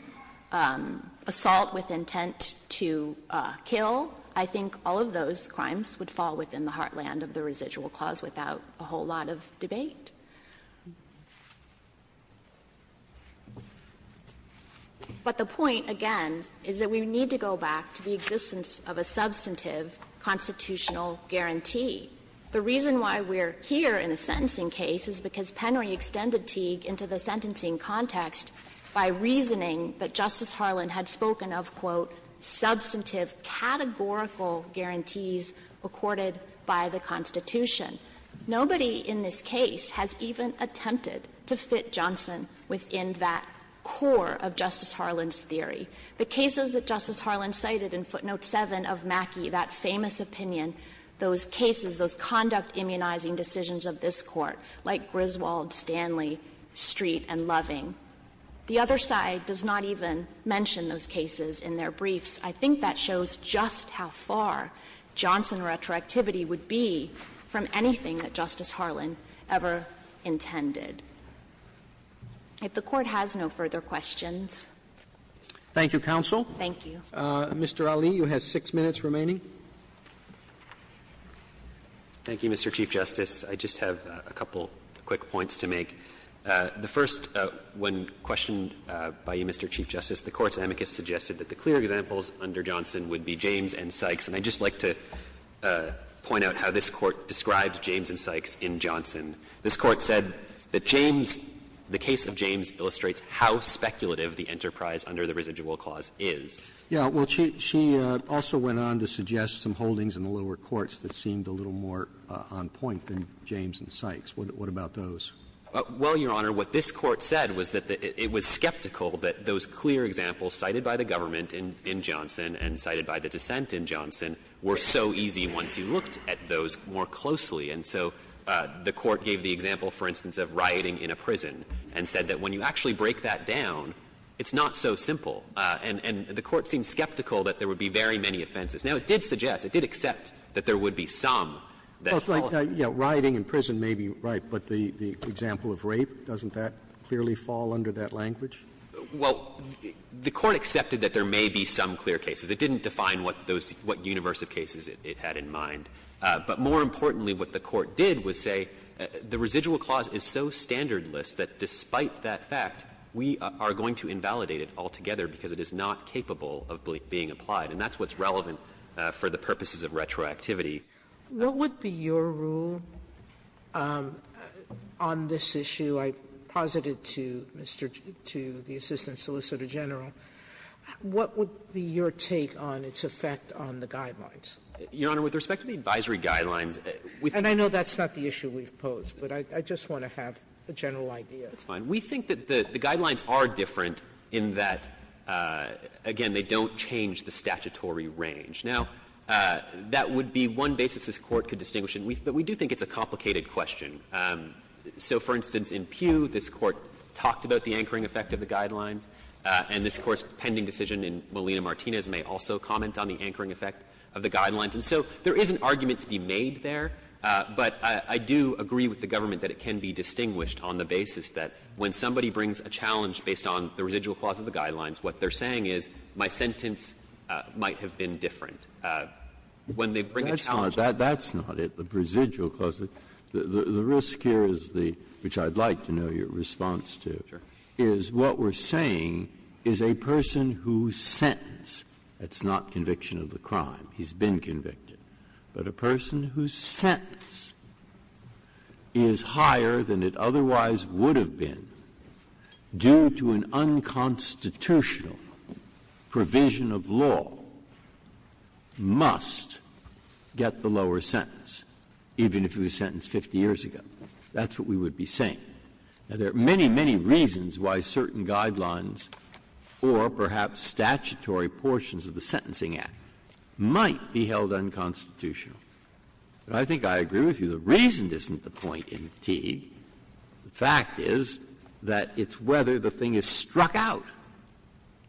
assault with intent to kill. I think all of those crimes would fall within the heartland of the residual clause without a whole lot of debate. But the point, again, is that we need to go back to the existence of a substantive constitutional guarantee. The reason why we're here in a sentencing case is because Penry extended Teague into the sentencing context by reasoning that Justice Harlan had spoken of, quote, substantive categorical guarantees accorded by the Constitution. Nobody in this case has even attempted to fit Johnson within that core of Justice Harlan's theory. The cases that Justice Harlan cited in footnote 7 of Mackey, that famous opinion, those cases, those conduct immunizing decisions of this Court, like Griswold, Stanley, Street, and Loving, the other side does not even mention those cases in their briefs. I think that shows just how far Johnson retroactivity would be from anything that Justice Harlan ever intended. If the Court has no further questions. Roberts Thank you, counsel. O'Connell Thank you. Roberts Mr. Ali, you have six minutes remaining. Ali. Ali Thank you, Mr. Chief Justice. I just have a couple quick points to make. The first one question by you, Mr. Chief Justice, the Court's amicus suggested that the clear examples under Johnson would be James and Sykes, and I'd just like to point out how this Court described James and Sykes in Johnson. This Court said that James, the case of James illustrates how speculative the enterprise under the residual clause is. Roberts Yeah. Well, she also went on to suggest some holdings in the lower courts that seemed a little more on point than James and Sykes. What about those? Ali Well, Your Honor, what this Court said was that it was skeptical that those clear examples cited by the government in Johnson and cited by the dissent in Johnson were so easy once you looked at those more closely. And so the Court gave the example, for instance, of rioting in a prison and said that when you actually break that down, it's not so simple. And the Court seemed skeptical that there would be very many offenses. Now, it did suggest, it did accept that there would be some that fall under that. Roberts Well, it's like, you know, rioting in prison may be right, but the example of rape, doesn't that clearly fall under that language? Ali Well, the Court accepted that there may be some clear cases. It didn't define what those universal cases it had in mind. But more importantly, what the Court did was say the residual clause is so standardless that despite that fact, we are going to invalidate it altogether because it is not capable of being applied. And that's what's relevant for the purposes of retroactivity. Sotomayor What would be your rule on this issue? I posited to Mr. Judge, to the Assistant Solicitor General, what would be your take on its effect on the guidelines? Ali Your Honor, with respect to the advisory guidelines, we've I know that's not the issue we've posed, but I just want to have a general idea. We think that the guidelines are different in that, again, they don't change the statutory range. Now, that would be one basis this Court could distinguish, but we do think it's a complicated question. So, for instance, in Peugh, this Court talked about the anchoring effect of the guidelines, and this Court's pending decision in Molina-Martinez may also comment on the anchoring effect of the guidelines. And so there is an argument to be made there, but I do agree with the government that it can be distinguished on the basis that when somebody brings a challenge based on the residual clause of the guidelines, what they're saying is, my sentence might have been different. When they bring a challenge to it. Breyer That's not it, the residual clause. The risk here is the, which I'd like to know your response to, is what we're saying is a person who's sentenced, that's not conviction of the crime. He's been convicted. But a person whose sentence is higher than it otherwise would have been due to an unconstitutional provision of law must get the lower sentence, even if he was sentenced 50 years ago. That's what we would be saying. Now, there are many, many reasons why certain guidelines or perhaps statutory portions of the Sentencing Act might be held unconstitutional. I think I agree with you. The reason isn't the point in T. The fact is that it's whether the thing is struck out,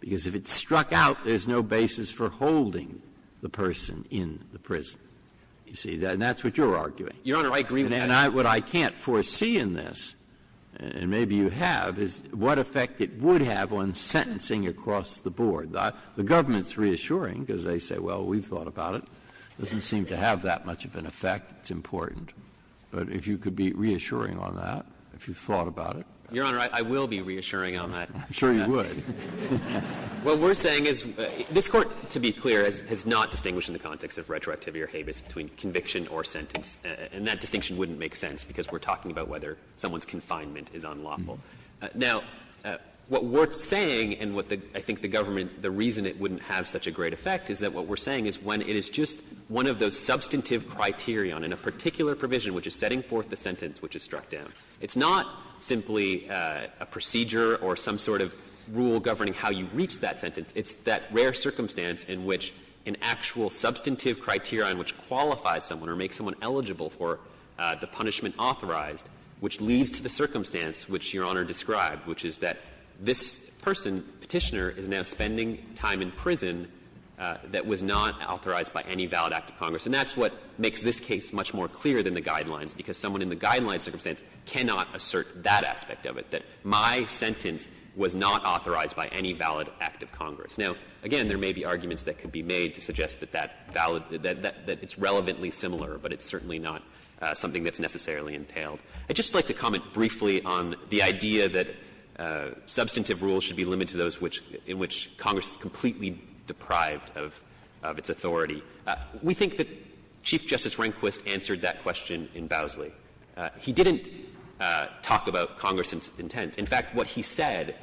because if it's struck out, there's no basis for holding the person in the prison. You see, and that's what you're arguing. And what I can't foresee in this, and maybe you have, is what effect it would have on sentencing across the board. The government's reassuring because they say, well, we've thought about it. It doesn't seem to have that much of an effect. It's important. But if you could be reassuring on that, if you've thought about it. Your Honor, I will be reassuring on that. I'm sure you would. What we're saying is this Court, to be clear, has not distinguished in the context of retroactivity or habeas between conviction or sentence, and that distinction wouldn't make sense because we're talking about whether someone's confinement is unlawful. Now, what we're saying and what the — I think the government, the reason it wouldn't have such a great effect is that what we're saying is when it is just one of those substantive criterion in a particular provision which is setting forth the sentence which is struck down, it's not simply a procedure or some sort of rule governing how you reach that sentence. It's that rare circumstance in which an actual substantive criterion which qualifies someone or makes someone eligible for the punishment authorized, which leads to the point that Your Honor described, which is that this person, Petitioner, is now spending time in prison that was not authorized by any valid act of Congress. And that's what makes this case much more clear than the Guidelines, because someone in the Guidelines circumstance cannot assert that aspect of it, that my sentence was not authorized by any valid act of Congress. Now, again, there may be arguments that could be made to suggest that that valid — that it's relevantly similar, but it's certainly not something that's necessarily entailed. I'd just like to comment briefly on the idea that substantive rules should be limited to those which — in which Congress is completely deprived of its authority. We think that Chief Justice Rehnquist answered that question in Bowsley. He didn't talk about Congress's intent. In fact, what he said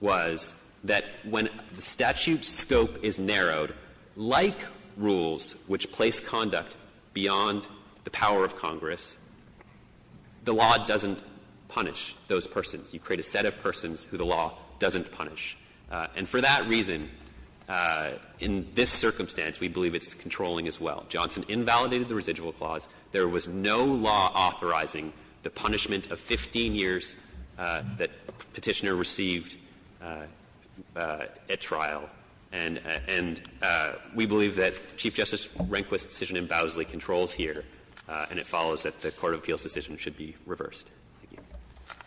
was that when the statute's scope is narrowed, like rules which place conduct beyond the power of Congress, the law doesn't punish those persons. You create a set of persons who the law doesn't punish. And for that reason, in this circumstance, we believe it's controlling as well. Johnson invalidated the residual clause. There was no law authorizing the punishment of 15 years that Petitioner received at trial. And we believe that Chief Justice Rehnquist's decision in Bowsley controls here, and it follows that the court of appeals decision should be reversed. Thank you.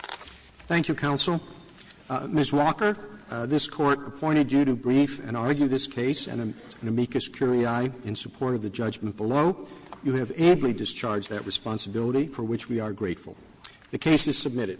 Roberts. Thank you, counsel. Ms. Walker, this Court appointed you to brief and argue this case, an amicus curiae, in support of the judgment below. You have ably discharged that responsibility, for which we are grateful. The case is submitted.